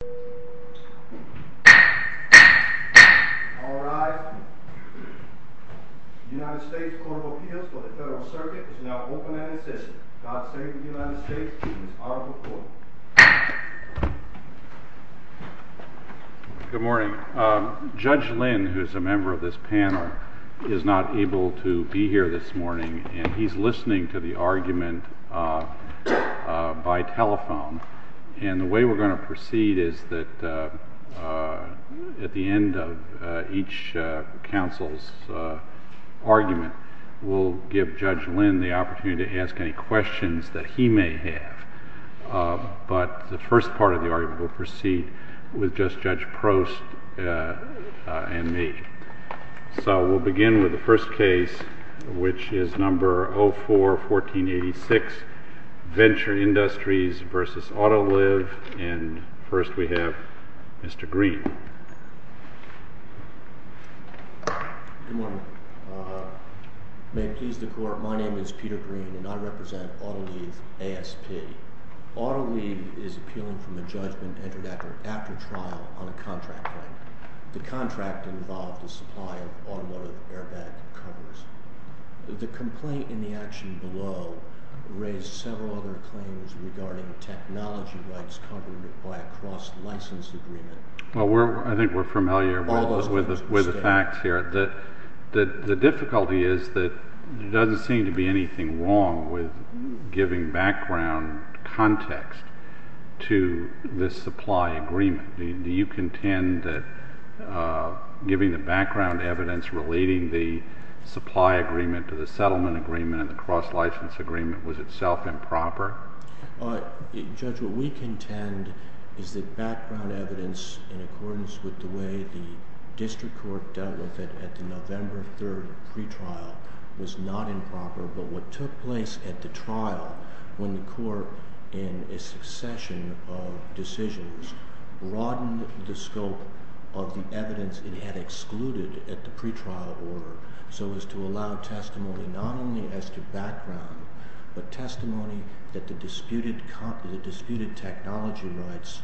The United States Court of Appeals for the Federal Circuit is now open and in session. God save the United States and its Honorable Court. is that at the end of each counsel's argument, we'll give Judge Lynn the opportunity to ask any questions that he may have. But the first part of the argument will proceed with just Judge Prost and me. So we'll begin with the first case, which is number 04-1486, Venture Industries v. Autoliv. And first we have Mr. Green. Good morning. May it please the Court, my name is Peter Green and I represent Autoliv ASP. Autoliv is appealing from a judgment entered after trial on a contract claim. The contract involved a supply of automotive airbag covers. The complaint in the action below raised several other claims regarding technology rights covered by a cross-license agreement. Well, I think we're familiar with the facts here. The difficulty is that there doesn't seem to be anything wrong with giving background context to this supply agreement. Do you contend that giving the background evidence relating the supply agreement to the settlement agreement and the cross-license agreement was itself improper? Judge, what we contend is that background evidence in accordance with the way the district court dealt with it at the November 3rd pre-trial was not improper. But what took place at the trial when the court in a succession of decisions broadened the scope of the evidence it had excluded at the pre-trial order so as to allow testimony not only as to background, but testimony that the disputed technology rights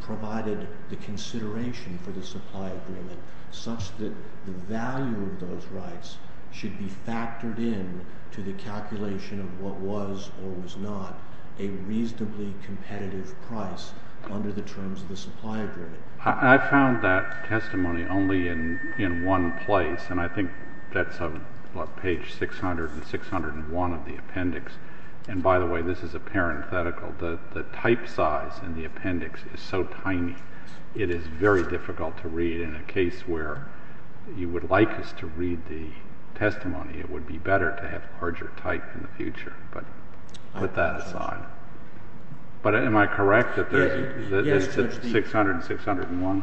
provided the consideration for the supply agreement such that the value of those rights should be factored in to the calculation of what was or was not a reasonably competitive price under the terms of the supply agreement. I found that testimony only in one place, and I think that's on page 600 and 601 of the appendix. And by the way, this is a parenthetical. The type size in the appendix is so tiny, it is very difficult to read. In a case where you would like us to read the testimony, it would be better to have larger type in the future, but put that aside. But am I correct that this is 600 and 601?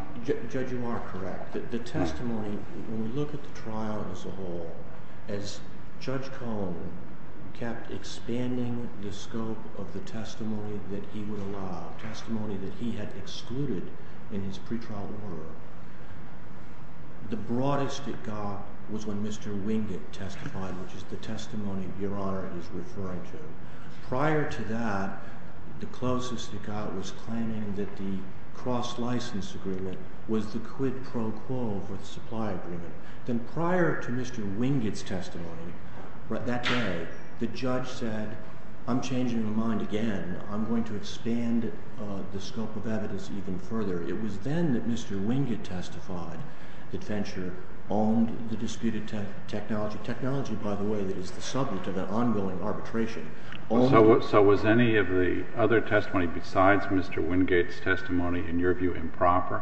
Judge, you are correct. The testimony, when we look at the trial as a whole, as Judge Cohn kept expanding the scope of the testimony that he would allow, testimony that he had excluded in his pre-trial order, the broadest it got was when Mr. Wingate testified, which is the testimony Your Honor is referring to. Prior to that, the closest it got was claiming that the cross-license agreement was the quid pro quo for the supply agreement. Then prior to Mr. Wingate's testimony that day, the judge said, I'm changing my mind again. I'm going to expand the scope of evidence even further. It was then that Mr. Wingate testified that Fencher owned the disputed technology. Technology, by the way, that is the subject of an ongoing arbitration. So was any of the other testimony besides Mr. Wingate's testimony, in your view, improper?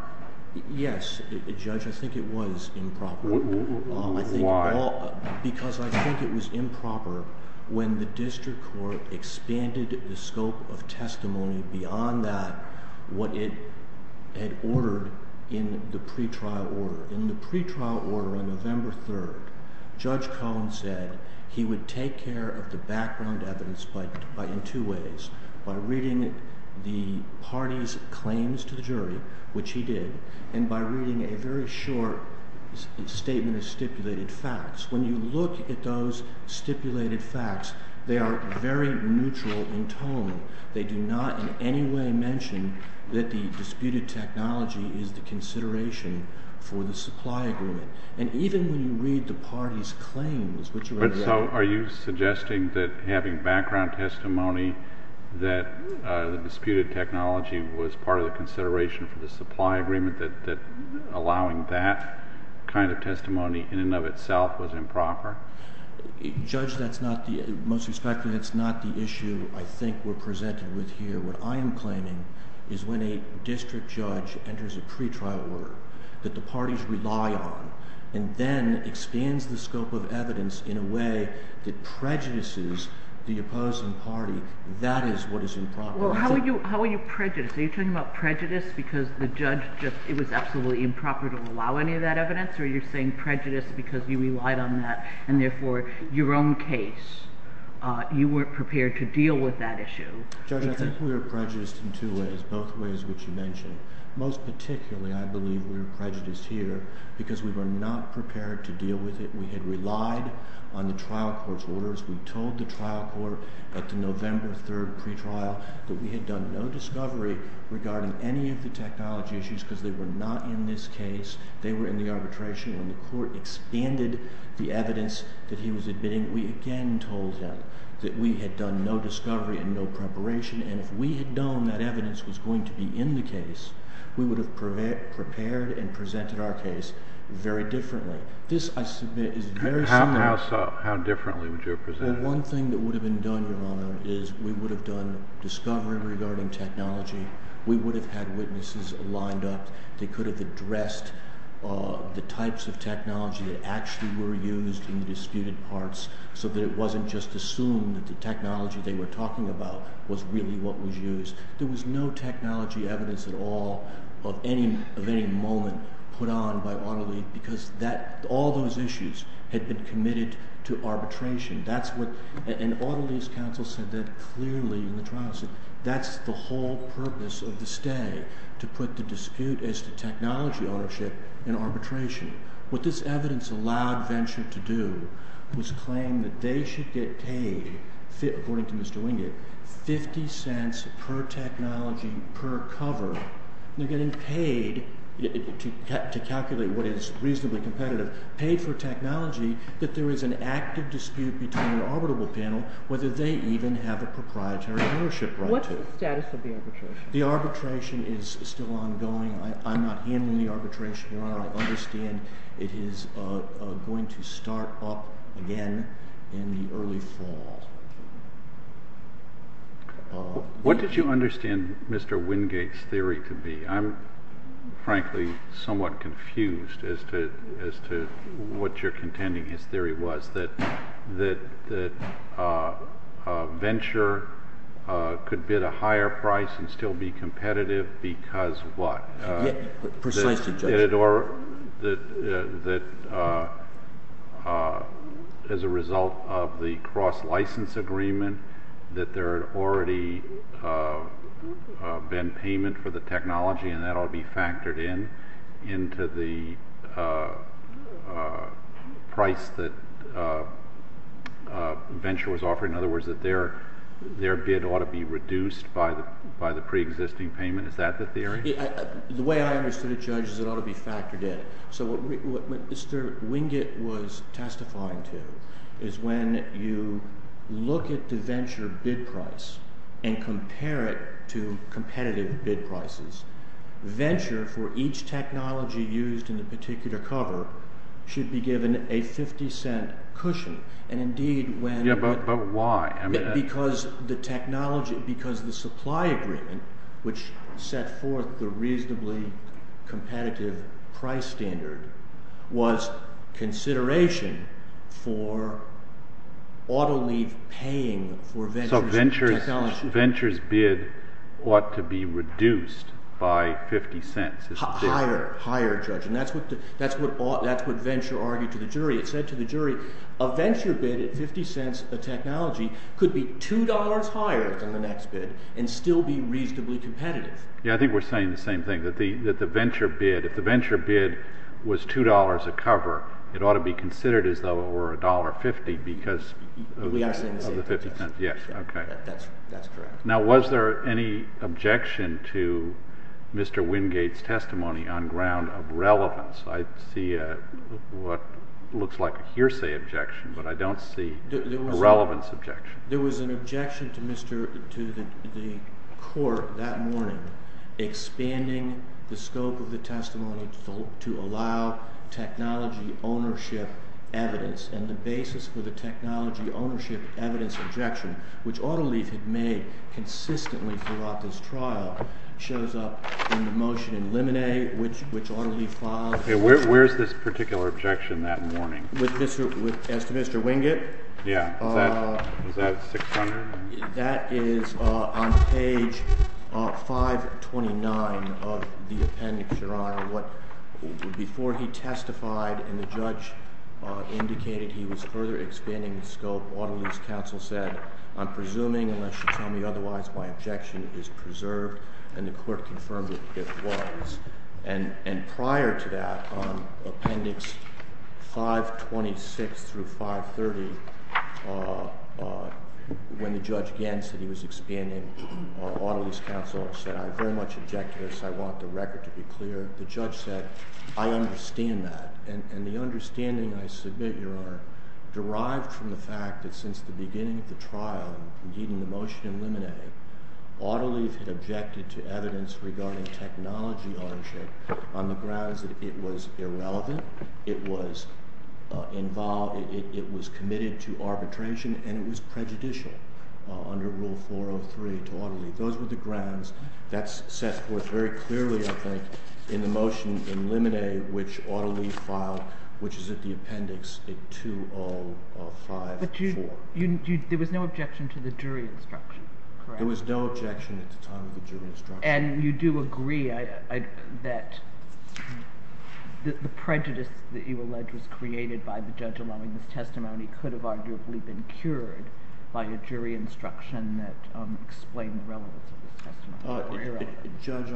Yes, Judge. I think it was improper. Why? Because I think it was improper when the district court expanded the scope of testimony beyond that, what it had ordered in the pre-trial order. In the pre-trial order on November 3rd, Judge Cohn said he would take care of the background evidence in two ways. By reading the party's claims to the jury, which he did, and by reading a very short statement of stipulated facts. When you look at those stipulated facts, they are very neutral in tone. They do not in any way mention that the disputed technology is the consideration for the supply agreement. And even when you read the party's claims, which are in there. So are you suggesting that having background testimony that the disputed technology was part of the consideration for the supply agreement, that allowing that kind of testimony in and of itself was improper? Judge, most respectfully, that's not the issue I think we're presented with here. What I am claiming is when a district judge enters a pre-trial order that the parties rely on, and then expands the scope of evidence in a way that prejudices the opposing party, that is what is improper. Well, how are you prejudiced? Are you talking about prejudice because the judge just, it was absolutely improper to allow any of that evidence? Or are you saying prejudice because you relied on that, and therefore your own case, you weren't prepared to deal with that issue? Judge, I think we were prejudiced in two ways, both ways which you mentioned. Most particularly, I believe we were prejudiced here because we were not prepared to deal with it. We had relied on the trial court's orders. We told the trial court at the November 3rd pre-trial that we had done no discovery regarding any of the technology issues because they were not in this case. They were in the arbitration. When the court expanded the evidence that he was admitting, we again told him that we had done no discovery and no preparation, and if we had known that evidence was going to be in the case, we would have prepared and presented our case very differently. This, I submit, is very similar. How differently would you have presented it? Well, one thing that would have been done, Your Honor, is we would have done discovery regarding technology. We would have had witnesses lined up that could have addressed the types of technology that actually were used in the disputed parts so that it wasn't just assumed that the technology they were talking about was really what was used. There was no technology evidence at all of any moment put on by AutoLeave because all those issues had been committed to arbitration. And AutoLeave's counsel said that clearly in the trial. That's the whole purpose of the stay, to put the dispute as to technology ownership in arbitration. What this evidence allowed Venture to do was claim that they should get paid, according to Mr. Wingate, $0.50 per technology per cover. They're getting paid, to calculate what is reasonably competitive, paid for technology that there is an active dispute between an arbitrable panel, whether they even have a proprietary ownership right to. What's the status of the arbitration? The arbitration is still ongoing. I'm not handling the arbitration, Your Honor. I understand it is going to start up again in the early fall. What did you understand Mr. Wingate's theory to be? I'm frankly somewhat confused as to what you're contending his theory was, that Venture could bid a higher price and still be competitive because what? That as a result of the cross-license agreement, that there had already been payment for the technology and that ought to be factored in into the price that Venture was offering. In other words, that their bid ought to be reduced by the preexisting payment. Is that the theory? The way I understood it, Judge, is it ought to be factored in. So what Mr. Wingate was testifying to is when you look at the Venture bid price and compare it to competitive bid prices, Venture, for each technology used in the particular cover, should be given a $0.50 cushion. But why? Because the supply agreement, which set forth the reasonably competitive price standard, was consideration for auto-leave paying for Venture's technology. So Venture's bid ought to be reduced by $0.50. Higher, higher, Judge. And that's what Venture argued to the jury. It said to the jury a Venture bid at $0.50 a technology could be $2 higher than the next bid and still be reasonably competitive. Yeah, I think we're saying the same thing, that the Venture bid, if the Venture bid was $2 a cover, it ought to be considered as though it were $1.50 because of the $0.50. Yes, that's correct. Now, was there any objection to Mr. Wingate's testimony on ground of relevance? I see what looks like a hearsay objection, but I don't see a relevance objection. There was an objection to the court that morning expanding the scope of the testimony to allow technology ownership evidence, and the basis for the technology ownership evidence objection, which auto-leave had made consistently throughout this trial, shows up in the motion in limine, which auto-leave filed. Okay, where's this particular objection that morning? As to Mr. Wingate? Yeah, is that 600? That is on page 529 of the appendix, Your Honor. Before he testified and the judge indicated he was further expanding the scope, the auto-lease counsel said, I'm presuming, unless you tell me otherwise, my objection is preserved, and the court confirmed it was. And prior to that, on appendix 526 through 530, when the judge again said he was expanding, auto-lease counsel said, I very much object to this. I want the record to be clear. The judge said, I understand that. And the understanding, I submit, Your Honor, derived from the fact that since the beginning of the trial, indeed in the motion in limine, auto-leave had objected to evidence regarding technology ownership on the grounds that it was irrelevant, it was committed to arbitration, and it was prejudicial under Rule 403 to auto-leave. Those were the grounds. And you do agree that the prejudice that you allege was created by the judge allowing this testimony could have arguably been cured by a jury instruction that explained the relevance of this testimony. Very relevant. Judge,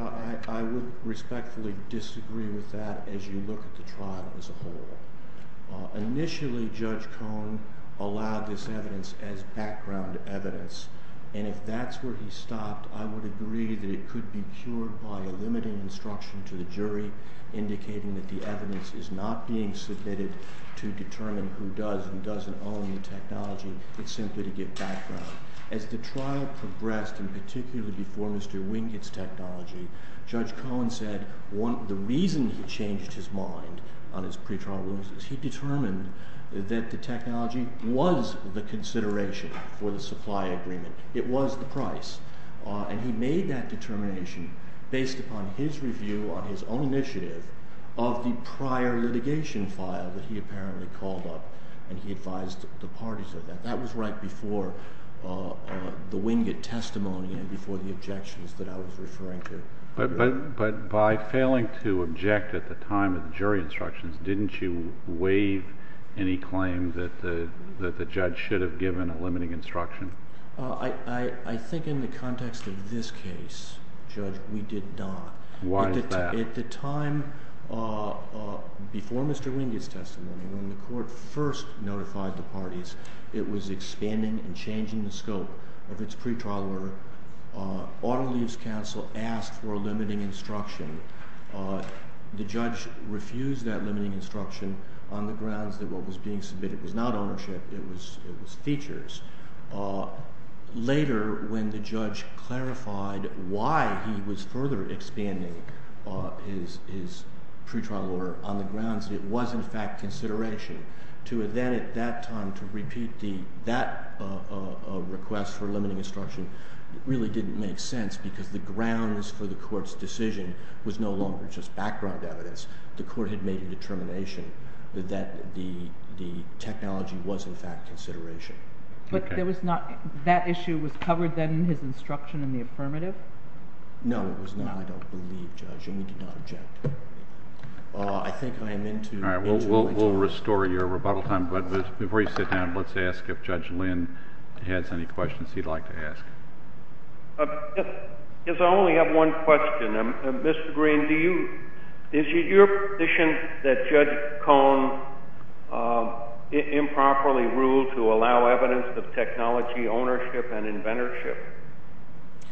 I would respectfully disagree with that, and I think it's a very important point. As you look at the trial as a whole, initially Judge Cohen allowed this evidence as background evidence, and if that's where he stopped, I would agree that it could be cured by a limiting instruction to the jury indicating that the evidence is not being submitted to determine who does and doesn't own the technology. It's simply to give background. As the trial progressed, and particularly before Mr. Wingett's technology, Judge Cohen said the reason he changed his mind on his pretrial rulings is he determined that the technology was the consideration for the supply agreement. It was the price. And he made that determination based upon his review on his own initiative of the prior litigation file that he apparently called up, and he advised the parties of that. That was right before the Wingett testimony and before the objections that I was referring to. But by failing to object at the time of the jury instructions, didn't you waive any claims that the judge should have given a limiting instruction? I think in the context of this case, Judge, we did not. Why is that? At the time before Mr. Wingett's testimony, when the court first notified the parties, it was expanding and changing the scope of its pretrial order. Auto Lease Counsel asked for a limiting instruction. The judge refused that limiting instruction on the grounds that what was being submitted was not ownership, it was features. Later, when the judge clarified why he was further expanding his pretrial order on the grounds that it was, in fact, consideration, to then at that time to repeat that request for limiting instruction really didn't make sense because the grounds for the court's decision was no longer just background evidence. The court had made a determination that the technology was, in fact, consideration. But that issue was covered then in his instruction in the affirmative? No, it was not, I don't believe, Judge, and we did not object. I think I am into my time. We'll restore your rebuttal time, but before you sit down, let's ask if Judge Lynn has any questions he'd like to ask. Yes, I only have one question. Mr. Green, is it your position that Judge Cohn improperly ruled to allow evidence of technology ownership and inventorship?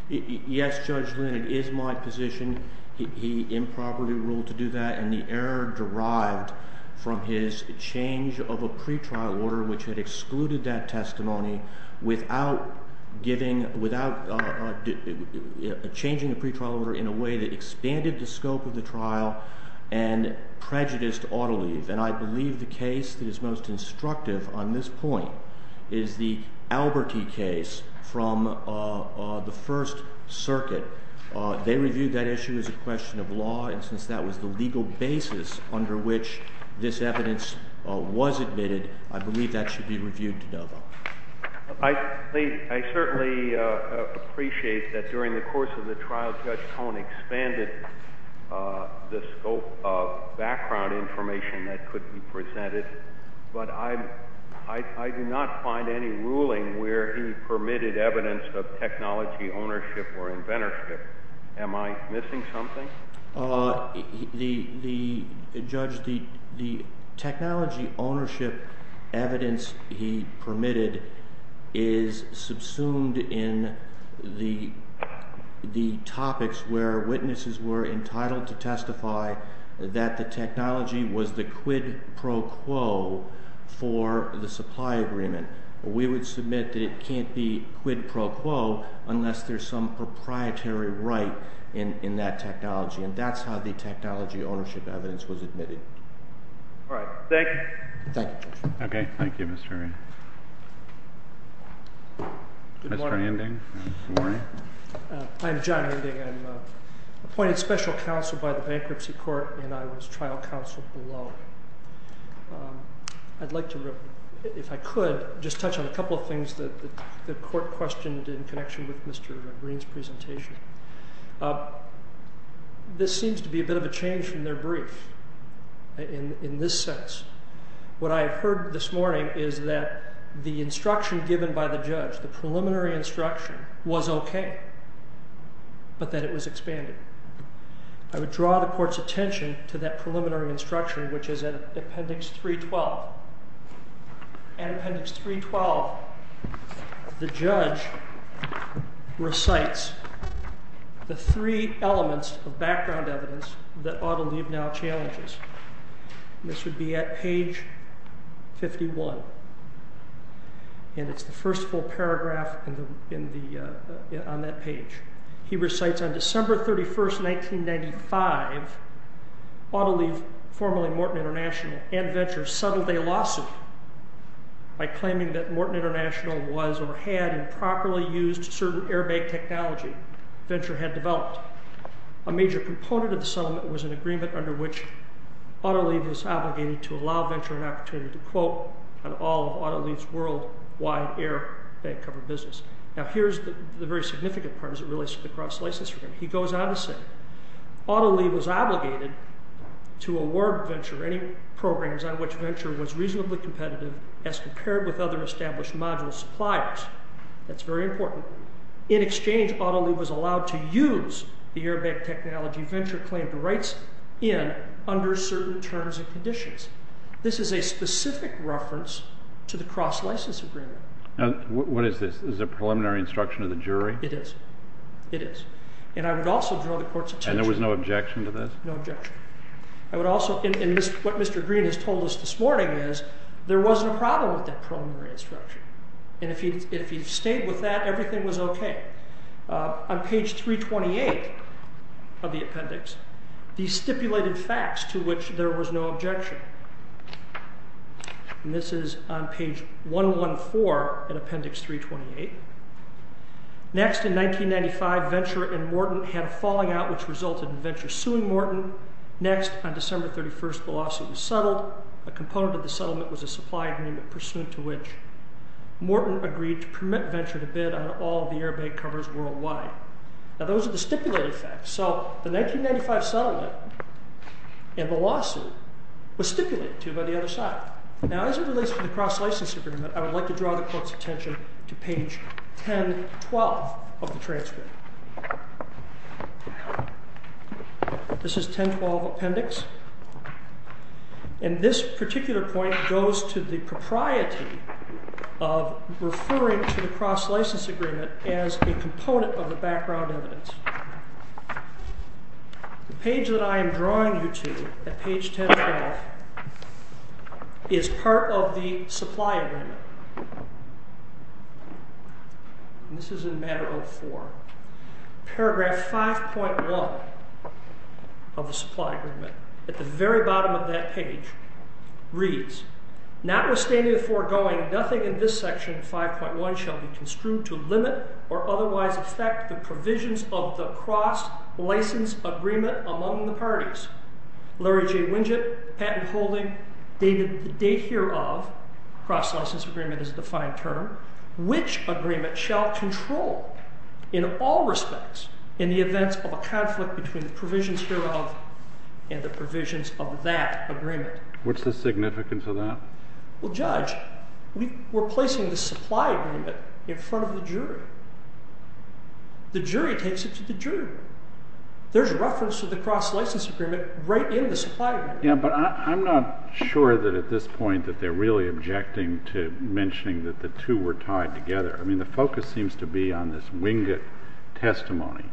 Yes, Judge Lynn, it is my position. He improperly ruled to do that, and the error derived from his change of a pretrial order which had excluded that testimony without changing the pretrial order in a way that expanded the scope of the trial and prejudiced auto leave. And I believe the case that is most instructive on this point is the Alberti case from the First Circuit. They reviewed that issue as a question of law, and since that was the legal basis under which this evidence was admitted, I believe that should be reviewed to no vote. I certainly appreciate that during the course of the trial, Judge Cohn expanded the scope of background information that could be presented, but I do not find any ruling where he permitted evidence of technology ownership or inventorship. Am I missing something? Judge, the technology ownership evidence he permitted is subsumed in the topics where witnesses were entitled to testify that the technology was the quid pro quo for the supply agreement. We would submit that it can't be quid pro quo unless there's some proprietary right in that technology, and that's how the technology ownership evidence was admitted. All right. Thank you. Thank you, Judge. Okay. Thank you, Mr. Herring. Mr. Handing. Good morning. I'm John Handing. I'm appointed special counsel by the Bankruptcy Court, and I was trial counsel below. I'd like to, if I could, just touch on a couple of things that the court questioned in connection with Mr. Green's presentation. This seems to be a bit of a change from their brief in this sense. What I heard this morning is that the instruction given by the judge, the preliminary instruction, was okay, but that it was expanded. I would draw the court's attention to that preliminary instruction, which is in Appendix 312. In Appendix 312, the judge recites the three elements of background evidence that Otto Leib now challenges. This would be at page 51, and it's the first full paragraph on that page. He recites, On December 31, 1995, Otto Leib, formerly Morton International, and Venture settled a lawsuit by claiming that Morton International was or had improperly used certain airbag technology Venture had developed. A major component of the settlement was an agreement under which Otto Leib was obligated to allow Venture an opportunity to quote on all of Otto Leib's worldwide airbag cover business. Now, here's the very significant part as it relates to the cross-license agreement. He goes on to say, Otto Leib was obligated to award Venture any programs on which Venture was reasonably competitive as compared with other established module suppliers. That's very important. In exchange, Otto Leib was allowed to use the airbag technology Venture claimed the rights in under certain terms and conditions. This is a specific reference to the cross-license agreement. Now, what is this? Is this a preliminary instruction of the jury? It is. It is. And I would also draw the court's attention. And there was no objection to this? No objection. I would also, and what Mr. Green has told us this morning is, there wasn't a problem with that preliminary instruction. And if he stayed with that, everything was okay. On page 328 of the appendix, these stipulated facts to which there was no objection. And this is on page 114 in appendix 328. Next, in 1995, Venture and Morton had a falling out which resulted in Venture suing Morton. Next, on December 31st, the lawsuit was settled. A component of the settlement was a supply agreement pursuant to which Morton agreed to permit Venture to bid on all of the airbag covers worldwide. Now, those are the stipulated facts. So the 1995 settlement and the lawsuit were stipulated to by the other side. Now, as it relates to the cross-license agreement, I would like to draw the court's attention to page 1012 of the transcript. This is 1012 appendix. And this particular point goes to the propriety of referring to the cross-license agreement as a component of the background evidence. The page that I am drawing you to at page 1012 is part of the supply agreement. And this is in matter 04. Paragraph 5.1 of the supply agreement, at the very bottom of that page, reads, Notwithstanding the foregoing, nothing in this section 5.1 shall be construed to limit or otherwise affect the provisions of the cross-license agreement among the parties. Larry J. Winget, patent holding, dated the date hereof. Cross-license agreement is a defined term. Which agreement shall control, in all respects, in the events of a conflict between the provisions hereof and the provisions of that agreement? What's the significance of that? Well, Judge, we're placing the supply agreement in front of the jury. The jury takes it to the jury. There's reference to the cross-license agreement right in the supply agreement. Yeah, but I'm not sure that at this point that they're really objecting to mentioning that the two were tied together. I mean, the focus seems to be on this Winget testimony.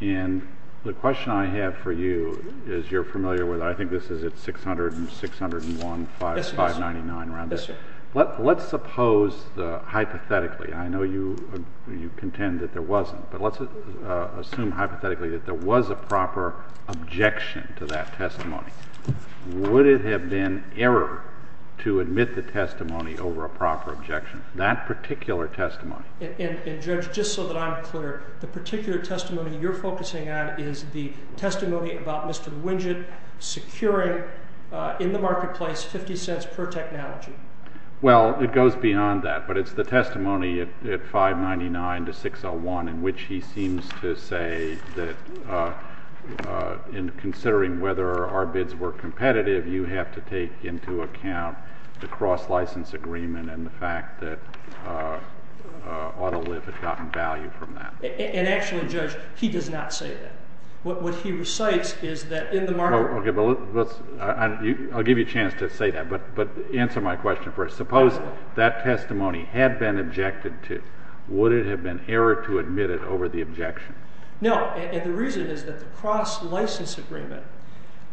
And the question I have for you, as you're familiar with it, I think this is at 600 and 601, 599, around there. Yes, sir. Let's suppose, hypothetically, I know you contend that there wasn't. But let's assume, hypothetically, that there was a proper objection to that testimony. Would it have been error to admit the testimony over a proper objection, that particular testimony? And, Judge, just so that I'm clear, the particular testimony you're focusing on is the testimony about Mr. Winget securing, in the marketplace, $0.50 per technology. Well, it goes beyond that. But it's the testimony at 599 to 601, in which he seems to say that, in considering whether our bids were competitive, you have to take into account the cross-license agreement and the fact that Autoliv had gotten value from that. And actually, Judge, he does not say that. What he recites is that in the marketplace. I'll give you a chance to say that. But answer my question first. Suppose that testimony had been objected to. Would it have been error to admit it over the objection? No. And the reason is that the cross-license agreement,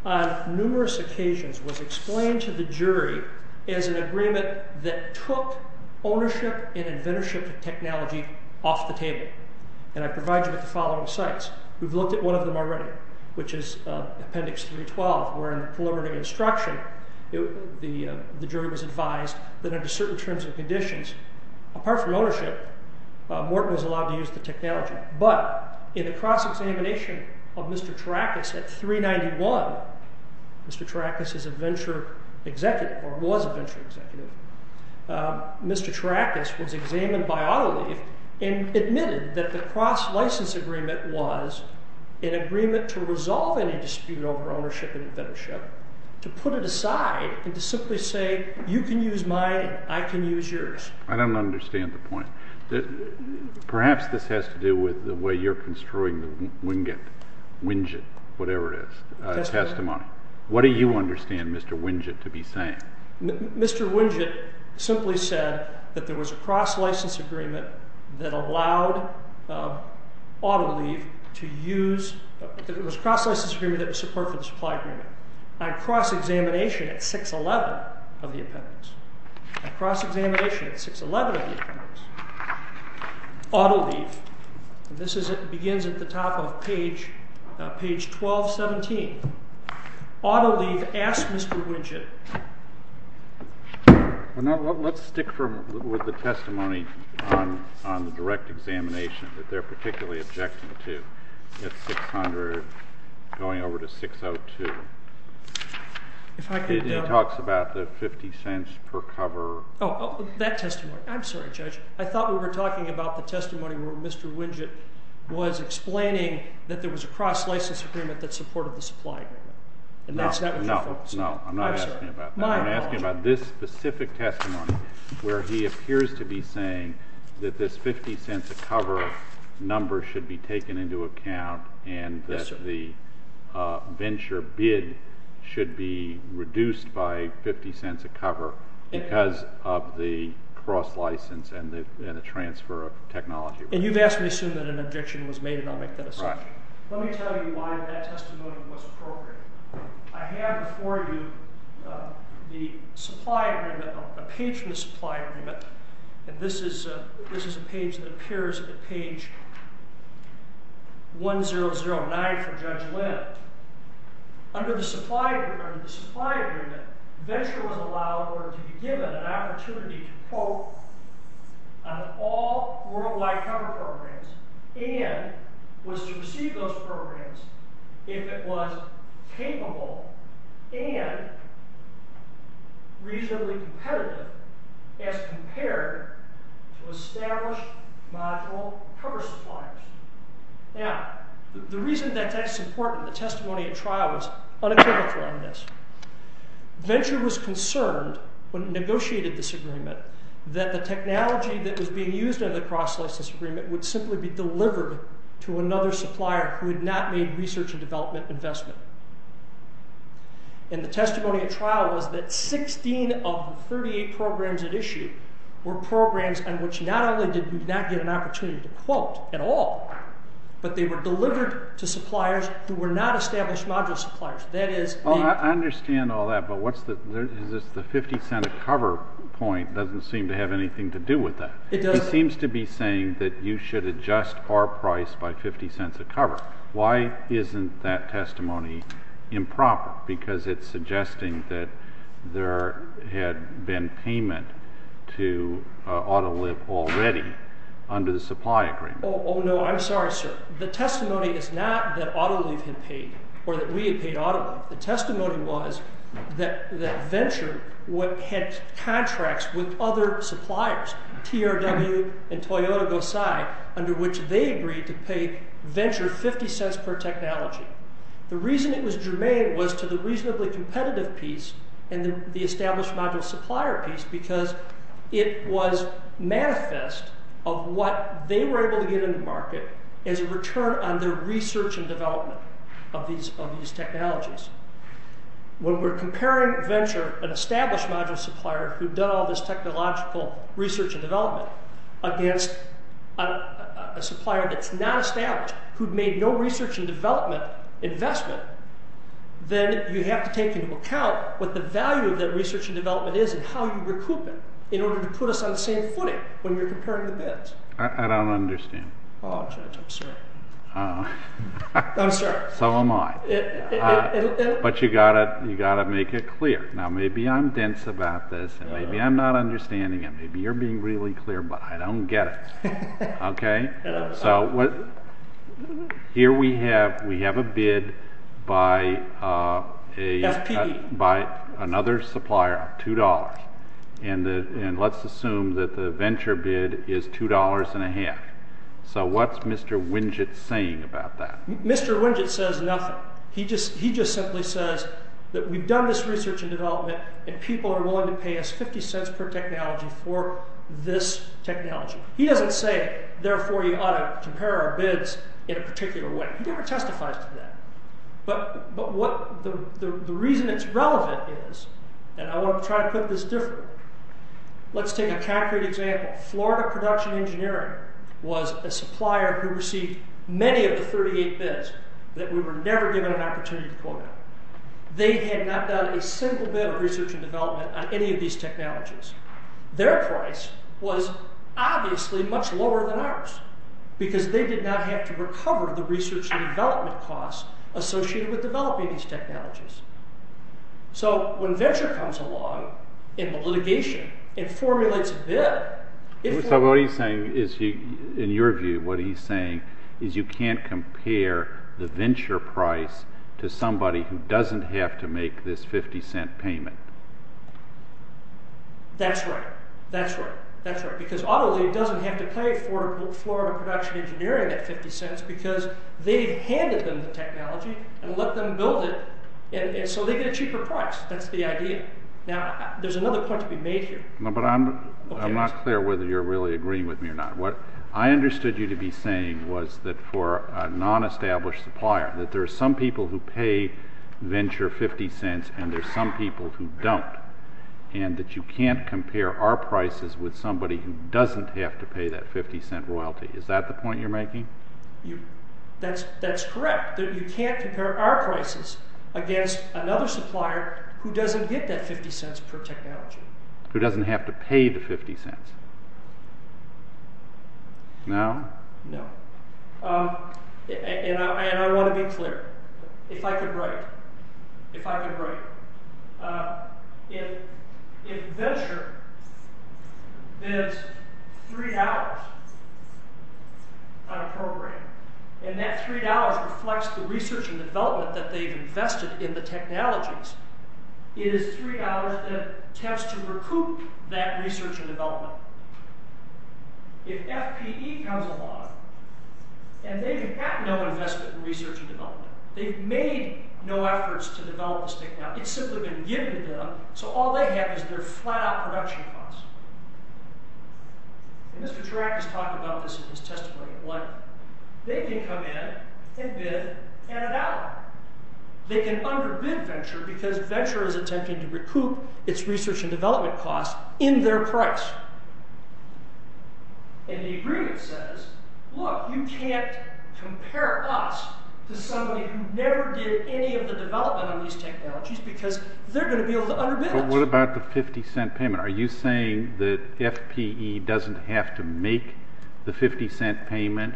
on numerous occasions, was explained to the jury as an agreement that took ownership and inventorship of technology off the table. And I provide you with the following sites. We've looked at one of them already, which is Appendix 312, where, in preliminary instruction, the jury was advised that under certain terms and conditions, apart from ownership, Morton was allowed to use the technology. But, in a cross-examination of Mr. Tarakis at 391, Mr. Tarakis is a venture executive, or was a venture executive, Mr. Tarakis was examined by Autoliv and admitted that the cross-license agreement was an agreement to resolve any dispute over ownership and inventorship, to put it aside and to simply say, you can use mine, I can use yours. I don't understand the point. Perhaps this has to do with the way you're construing the winget, winget, whatever it is, testimony. What do you understand Mr. Winget to be saying? Mr. Winget simply said that there was a cross-license agreement that allowed Autoliv to use... On cross-examination at 611 of the appendix, on cross-examination at 611 of the appendix, Autoliv, and this begins at the top of page 1217, Autoliv asked Mr. Winget... Let's stick with the testimony on the direct examination that they're particularly objecting to. At 600, going over to 602, he talks about the 50 cents per cover... Oh, that testimony. I'm sorry, Judge. I thought we were talking about the testimony where Mr. Winget was explaining that there was a cross-license agreement that supported the supply agreement. No, no, I'm not asking about that. I'm asking about this specific testimony where he appears to be saying that this 50 cents a cover number should be taken into account and that the venture bid should be reduced by 50 cents a cover because of the cross-license and the transfer of technology. And you've asked me to assume that an objection was made, and I'll make that assumption. Let me tell you why that testimony was appropriate. I have before you the supply agreement, a page from the supply agreement, and this is a page that appears at page 1009 from Judge Lind. Under the supply agreement, venture was allowed or to be given an opportunity to quote on all worldwide cover programs and was to receive those programs if it was capable and reasonably competitive as compared to established module cover suppliers. Now, the reason that that's important, the testimony at trial was unaccountable on this. Venture was concerned when it negotiated this agreement that the technology that was being used under the cross-license agreement would simply be delivered to another supplier who had not made research and development investment. And the testimony at trial was that 16 of the 38 programs at issue were programs on which not only did we not get an opportunity to quote at all, but they were delivered to suppliers who were not established module suppliers. That is... I understand all that, but what's the... Is this the 50 cent a cover point doesn't seem to have anything to do with that. It does. He seems to be saying that you should adjust our price by 50 cents a cover. Why isn't that testimony improper? Because it's suggesting that there had been payment to Autoliv already under the supply agreement. Oh, no, I'm sorry, sir. The testimony is not that Autoliv had paid or that we had paid Autoliv. The testimony was that Venture had contracts with other suppliers, TRW and Toyota-Gosai, under which they agreed to pay Venture 50 cents per technology. The reason it was germane was to the reasonably competitive piece and the established module supplier piece because it was manifest of what they were able to get in the market as a return on their research and development of these technologies. When we're comparing Venture, an established module supplier who'd done all this technological research and development against a supplier that's not established, who'd made no research and development investment, then you have to take into account what the value of that research and development is and how you recoup it in order to put us on the same footing when you're comparing the bids. I don't understand. Oh, Judge, I'm sorry. I'm sorry. So am I. But you've got to make it clear. Now, maybe I'm dense about this and maybe I'm not understanding it. Maybe you're being really clear, but I don't get it. Okay? So here we have a bid by another supplier of $2. And let's assume that the Venture bid is $2.50. So what's Mr. Winget saying about that? Mr. Winget says nothing. He just simply says that we've done this research and development and people are willing to pay us for this technology. He doesn't say, therefore, you ought to compare our bids in a particular way. He never testifies to that. But the reason it's relevant is, and I want to try to put this differently. Let's take a concrete example. Florida Production Engineering was a supplier who received many of the 38 bids that we were never given an opportunity to quote them. They had not done a single bid of research and development on any of these technologies. Their price was obviously much lower than ours because they did not have to recover the research and development costs associated with developing these technologies. So when Venture comes along in litigation and formulates a bid... So what he's saying is, in your view, what he's saying is you can't compare the Venture price to somebody who doesn't have to make this $0.50 payment. That's right. That's right. Because AutoLeague doesn't have to pay Florida Production Engineering that $0.50 because they've handed them the technology and let them build it so they get a cheaper price. That's the idea. Now, there's another point to be made here. But I'm not clear whether you're really agreeing with me or not. What I understood you to be saying was that for a non-established supplier, that there are some people who pay Venture $0.50 and there are some people who don't. And that you can't compare our prices with somebody who doesn't have to pay that $0.50 royalty. Is that the point you're making? That's correct. You can't compare our prices against another supplier who doesn't get that $0.50 per technology. Who doesn't have to pay the $0.50. No? No. And I want to be clear. If I could write... If I could write... If Venture spends $3 on a program and that $3 reflects the research and development that they've invested in the technologies, it is $3 that tends to recoup that research and development. If FPE comes along and they've had no investment in research and development, they've made no efforts to develop the stick now. It's simply been given to them, so all they have is their flat-out production costs. And Mr. Chirac has talked about this in his testimony. What? They can come in and bid Canada out. They can underbid Venture because Venture is attempting to recoup its research and development costs in their price. And the agreement says, look, you can't compare us to somebody who never did any of the development on these technologies because they're going to be able to underbid us. But what about the $0.50 payment? Are you saying that FPE doesn't have to make the $0.50 payment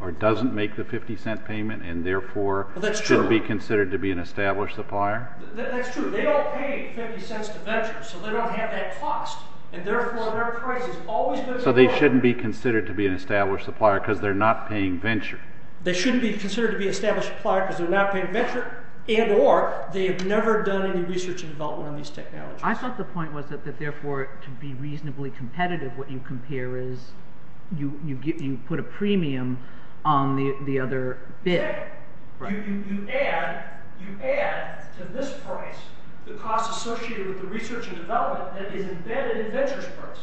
or doesn't make the $0.50 payment and therefore shouldn't be considered to be an established supplier? That's true. They all pay $0.50 to Venture, so they don't have that cost. And therefore their price is always going to be lower. So they shouldn't be considered to be an established supplier because they're not paying Venture. They shouldn't be considered to be an established supplier because they're not paying Venture and or they have never done any research and development on these technologies. I thought the point was that therefore to be reasonably competitive what you compare is you put a premium on the other bid. You add to this price the costs associated with the research and development that is embedded in Venture's price.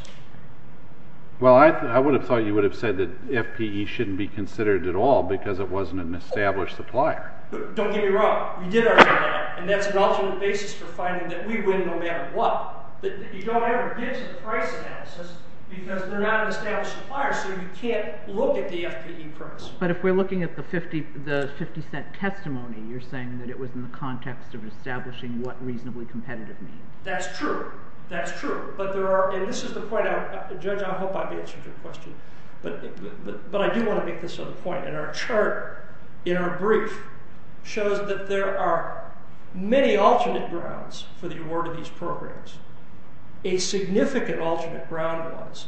Well, I would have thought you would have said that FPE shouldn't be considered at all because it wasn't an established supplier. Don't get me wrong. We did our job and that's an alternate basis for finding that we win no matter what. But you don't ever get to the price analysis because they're not an established supplier so you can't look at the FPE price. But if we're looking at the $0.50 testimony you're saying that it was in the context of establishing what reasonably competitive means. That's true. That's true. But there are and this is the point I Judge, I hope I've answered your question. But I do want to make this other point. And our chart in our brief shows that there are many alternate grounds for the award of these programs. A significant alternate ground was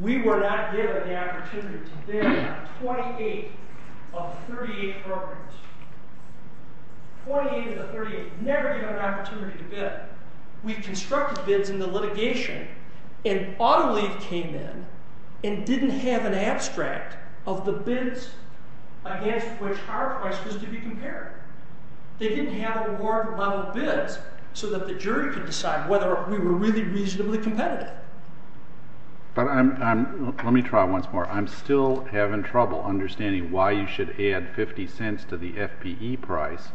we were not given the opportunity to bid on 28 of 38 programs. 28 of the 38. Never given an opportunity to bid. We constructed bids in the litigation and AutoLeaf came in and didn't have an abstract of the bids against which our price was to be compared. They didn't have award model bids so that the jury could decide whether we were really reasonably competitive. But I'm let me try once more. I'm still having trouble understanding why you should add $0.50 to the FPE price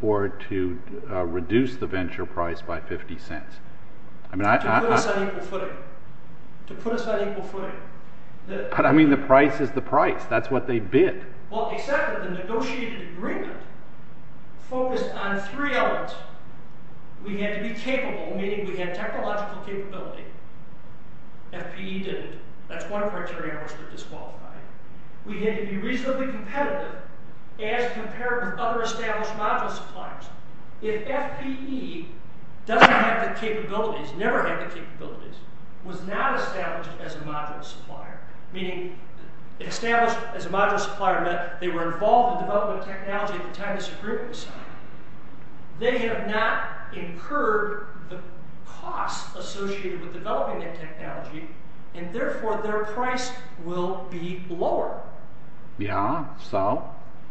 or to reduce the venture price by $0.50. To put us on equal footing. To put us on equal footing. But I mean the price is the price. That's what they bid. Well except for the negotiated agreement focused on three elements. We had to be capable meaning we had technological capability. FPE didn't. That's one of the criteria I was disqualified. We had to be reasonably competitive as compared with other established module suppliers. If FPE doesn't have the capabilities never had the capabilities was not established as a module supplier meaning established as a module supplier they were involved in the development of technology at the time this agreement was signed they have not incurred the costs associated with developing that technology and therefore their price will be lower. Yeah, so?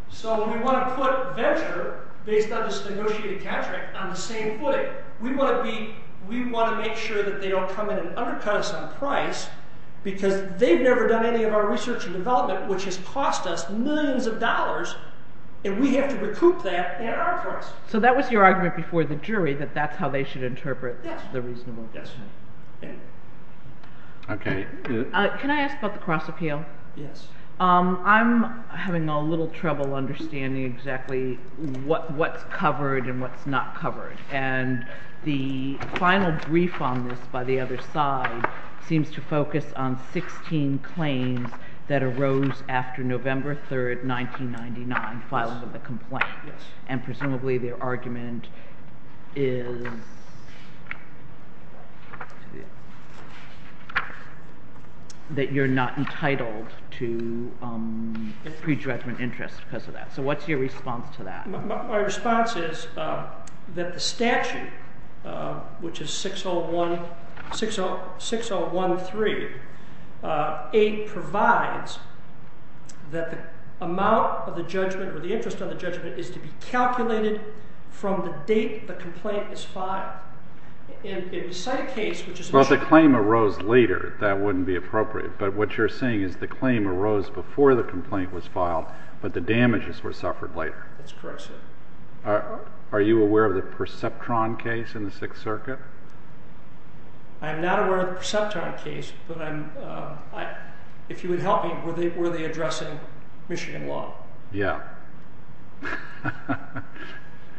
So we want to put venture based on this negotiated contract on the same footing. We want to be we want to make sure that they don't come in and undercut us on price because they've never done any of our research and development which has cost us millions of dollars and we have to recoup that at our price. So that was your argument before the jury that that's how they should interpret the reasonable investment. Yes. Okay. Can I ask about the cross appeal? Yes. I'm having a little trouble understanding exactly what's covered and what's not covered and the final brief on this by the other side seems to focus on 16 claims that arose after November 3rd, 1999 filing of the complaint. Yes. And presumably the argument is that you're not entitled to prejudgment interest because of that. So what's your response to that? My response is that the statute which is 6013 8 provides that the amount of the judgment or the interest of the judgment is to be calculated from the date the complaint is filed. If you cite a case which is Well the claim arose later that wouldn't be appropriate but what you're saying is the claim arose before the complaint was filed but the damages were suffered later. That's correct, sir. Are you aware of the Perceptron case in the Sixth Circuit? I'm not aware of the Perceptron case but if you would help me were they addressing Michigan law? Yeah.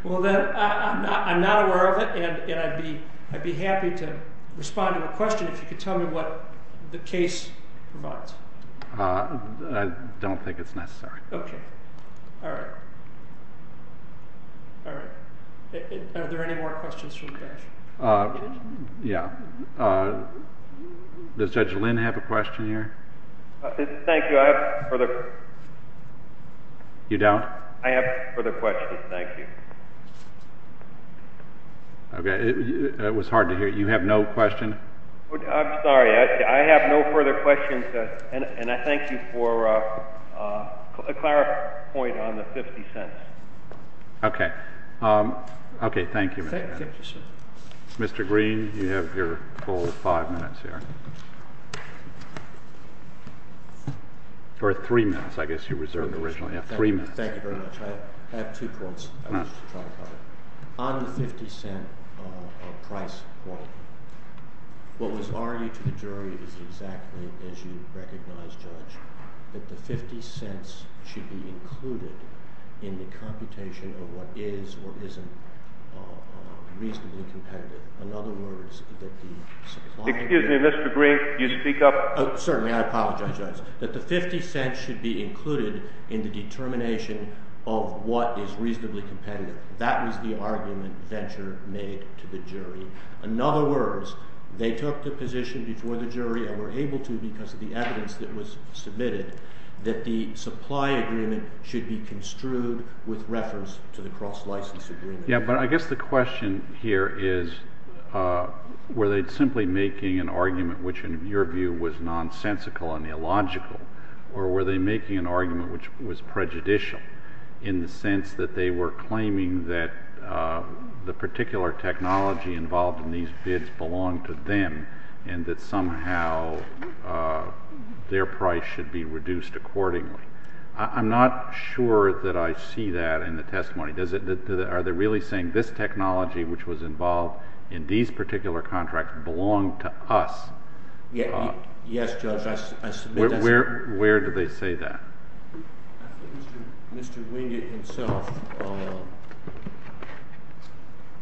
Well then I'm not aware of it and I'd be happy to respond to a question if you could tell me what the case provides. I don't think it's necessary. Okay. Alright. Alright. Are there any more questions from you guys? Yeah. Does Judge Lynn have a question here? Thank you. I have further questions. You don't? I have further questions. Thank you. Okay. It was hard to hear. You have no question? I'm sorry. I have no further questions and I thank you for a clarifying point on the 50 cents. Okay. Okay. Thank you. Thank you, sir. Mr. Green, you have your full five minutes here. Or three minutes, I guess you reserved originally. Three minutes. Thank you very much. I have two points I wish to try to cover. On the 50 cent price point what was argued to the jury was exactly as you recognize, Judge, that the 50 cents should be included in the computation of what is or isn't reasonably competitive. In other words, that the supply... Excuse me, Mr. Green, you speak up. Certainly. I apologize, Judge. That the 50 cents should be included in the determination of what is reasonably competitive. That was the argument Venture made to the jury. In other words, they took the position before the jury and were able to because of the evidence that was submitted that the supply agreement should be construed with reference to the cross-license agreement. Yeah, but I guess the question here is were they simply making an argument which in your view was nonsensical and illogical or were they making an argument which was prejudicial in the sense that they were claiming that the particular technology involved in these bids belonged to them and that somehow their price should be reduced accordingly. I'm not sure that I see that in the testimony. Are they really saying this technology which was involved in these particular contracts belonged to us? Yes, Judge, I submit that's... Where do they say that? I think Mr. Wingate himself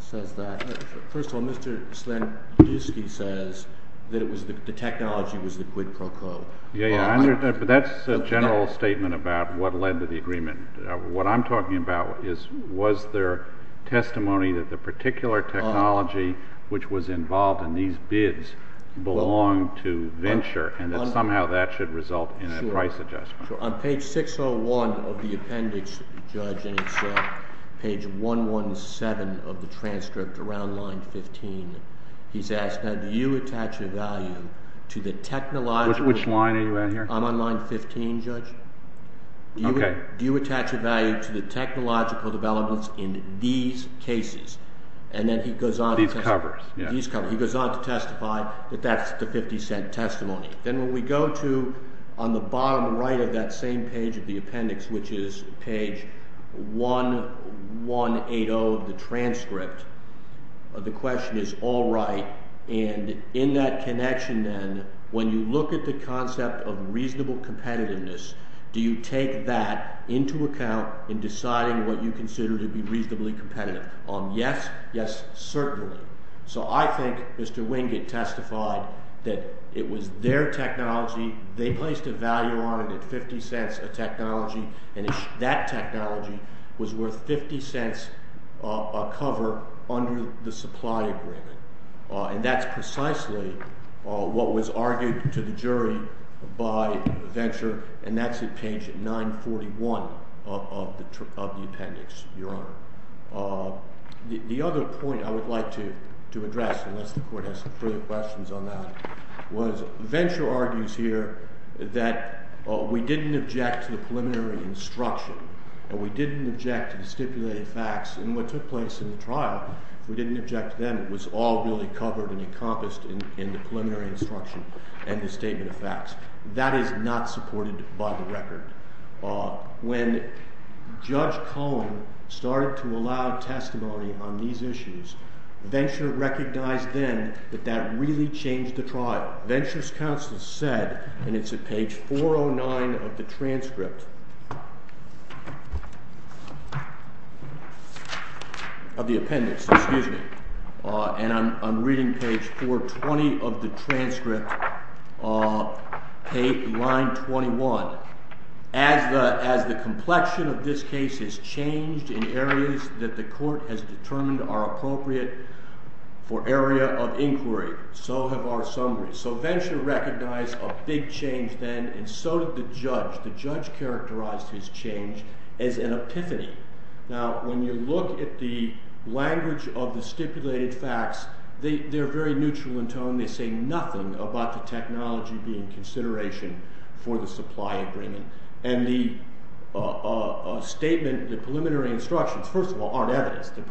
says that. First of all, Mr. Slankiewski says that the technology was the quid pro quo. Yeah, but that's a general statement about what led to the agreement. What I'm talking about was their testimony that the particular technology which was involved in these bids belonged to Venture and that somehow that should result in a price adjustment. On page 601 of the appendix, Judge, and it's page 117 of the transcript around line 15, he's asked, now, do you attach a value to the technological... Which line are you on here? I'm on line 15, Judge. Do you attach a value to the technological developments in these cases? And then he goes on... These covers. He goes on to testify that that's the 50-cent testimony. Then when we go to... On the bottom right of that same page of the appendix, which is page 1180 of the transcript, the question is, all right, and in that connection, then, when you look at the concept of reasonable competitiveness, do you take that into account in deciding what you consider to be reasonably competitive? Yes, yes, certainly. So I think Mr. Wingate testified that it was their technology. They placed a value on it at 50 cents a technology, and that technology was worth 50 cents a cover under the supply agreement. And that's precisely what was argued to the jury by Venture, The other point I would like to address, unless the Court has further questions on that, was Venture argues here that we didn't object to the preliminary instruction, or we didn't object to the stipulated facts, and what took place in the trial, we didn't object to them. It was all really covered and encompassed in the preliminary instruction and the statement of facts. That is not supported by the record. When Judge Cohen started to allow testimony on these issues, Venture recognized then that that really changed the trial. Venture's counsel said, and it's at page 409 of the transcript, of the appendix, excuse me, and I'm reading page 420 of the transcript, page, line 21. As the complexion of this case has changed in areas that the Court has determined are appropriate for area of inquiry, so have our summaries. So Venture recognized a big change then, and so did the judge. The judge characterized his change as an epiphany. Now, when you look at the language of the stipulated facts, they're very neutral in tone. They say nothing about the technology being consideration for the supply agreement, and the statement, the preliminary instructions, first of all, aren't evidence. They're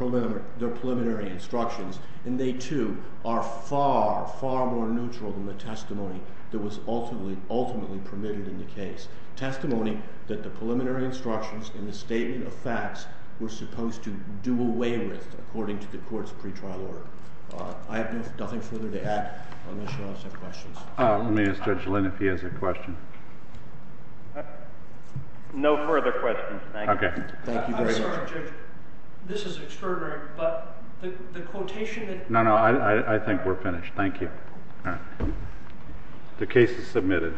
preliminary instructions, and they, too, are far, far more neutral than the testimony that was ultimately permitted in the case. Testimony that the preliminary instructions and the statement of facts were supposed to do away with, according to the Court's pretrial order. I have nothing further to add. I'm going to show us some questions. Let me ask Judge Lynn if he has a question. No further questions, thank you. Okay. Thank you very much. I'm sorry, Judge. This is extraordinary, but the quotation that... Thank you. The case is submitted.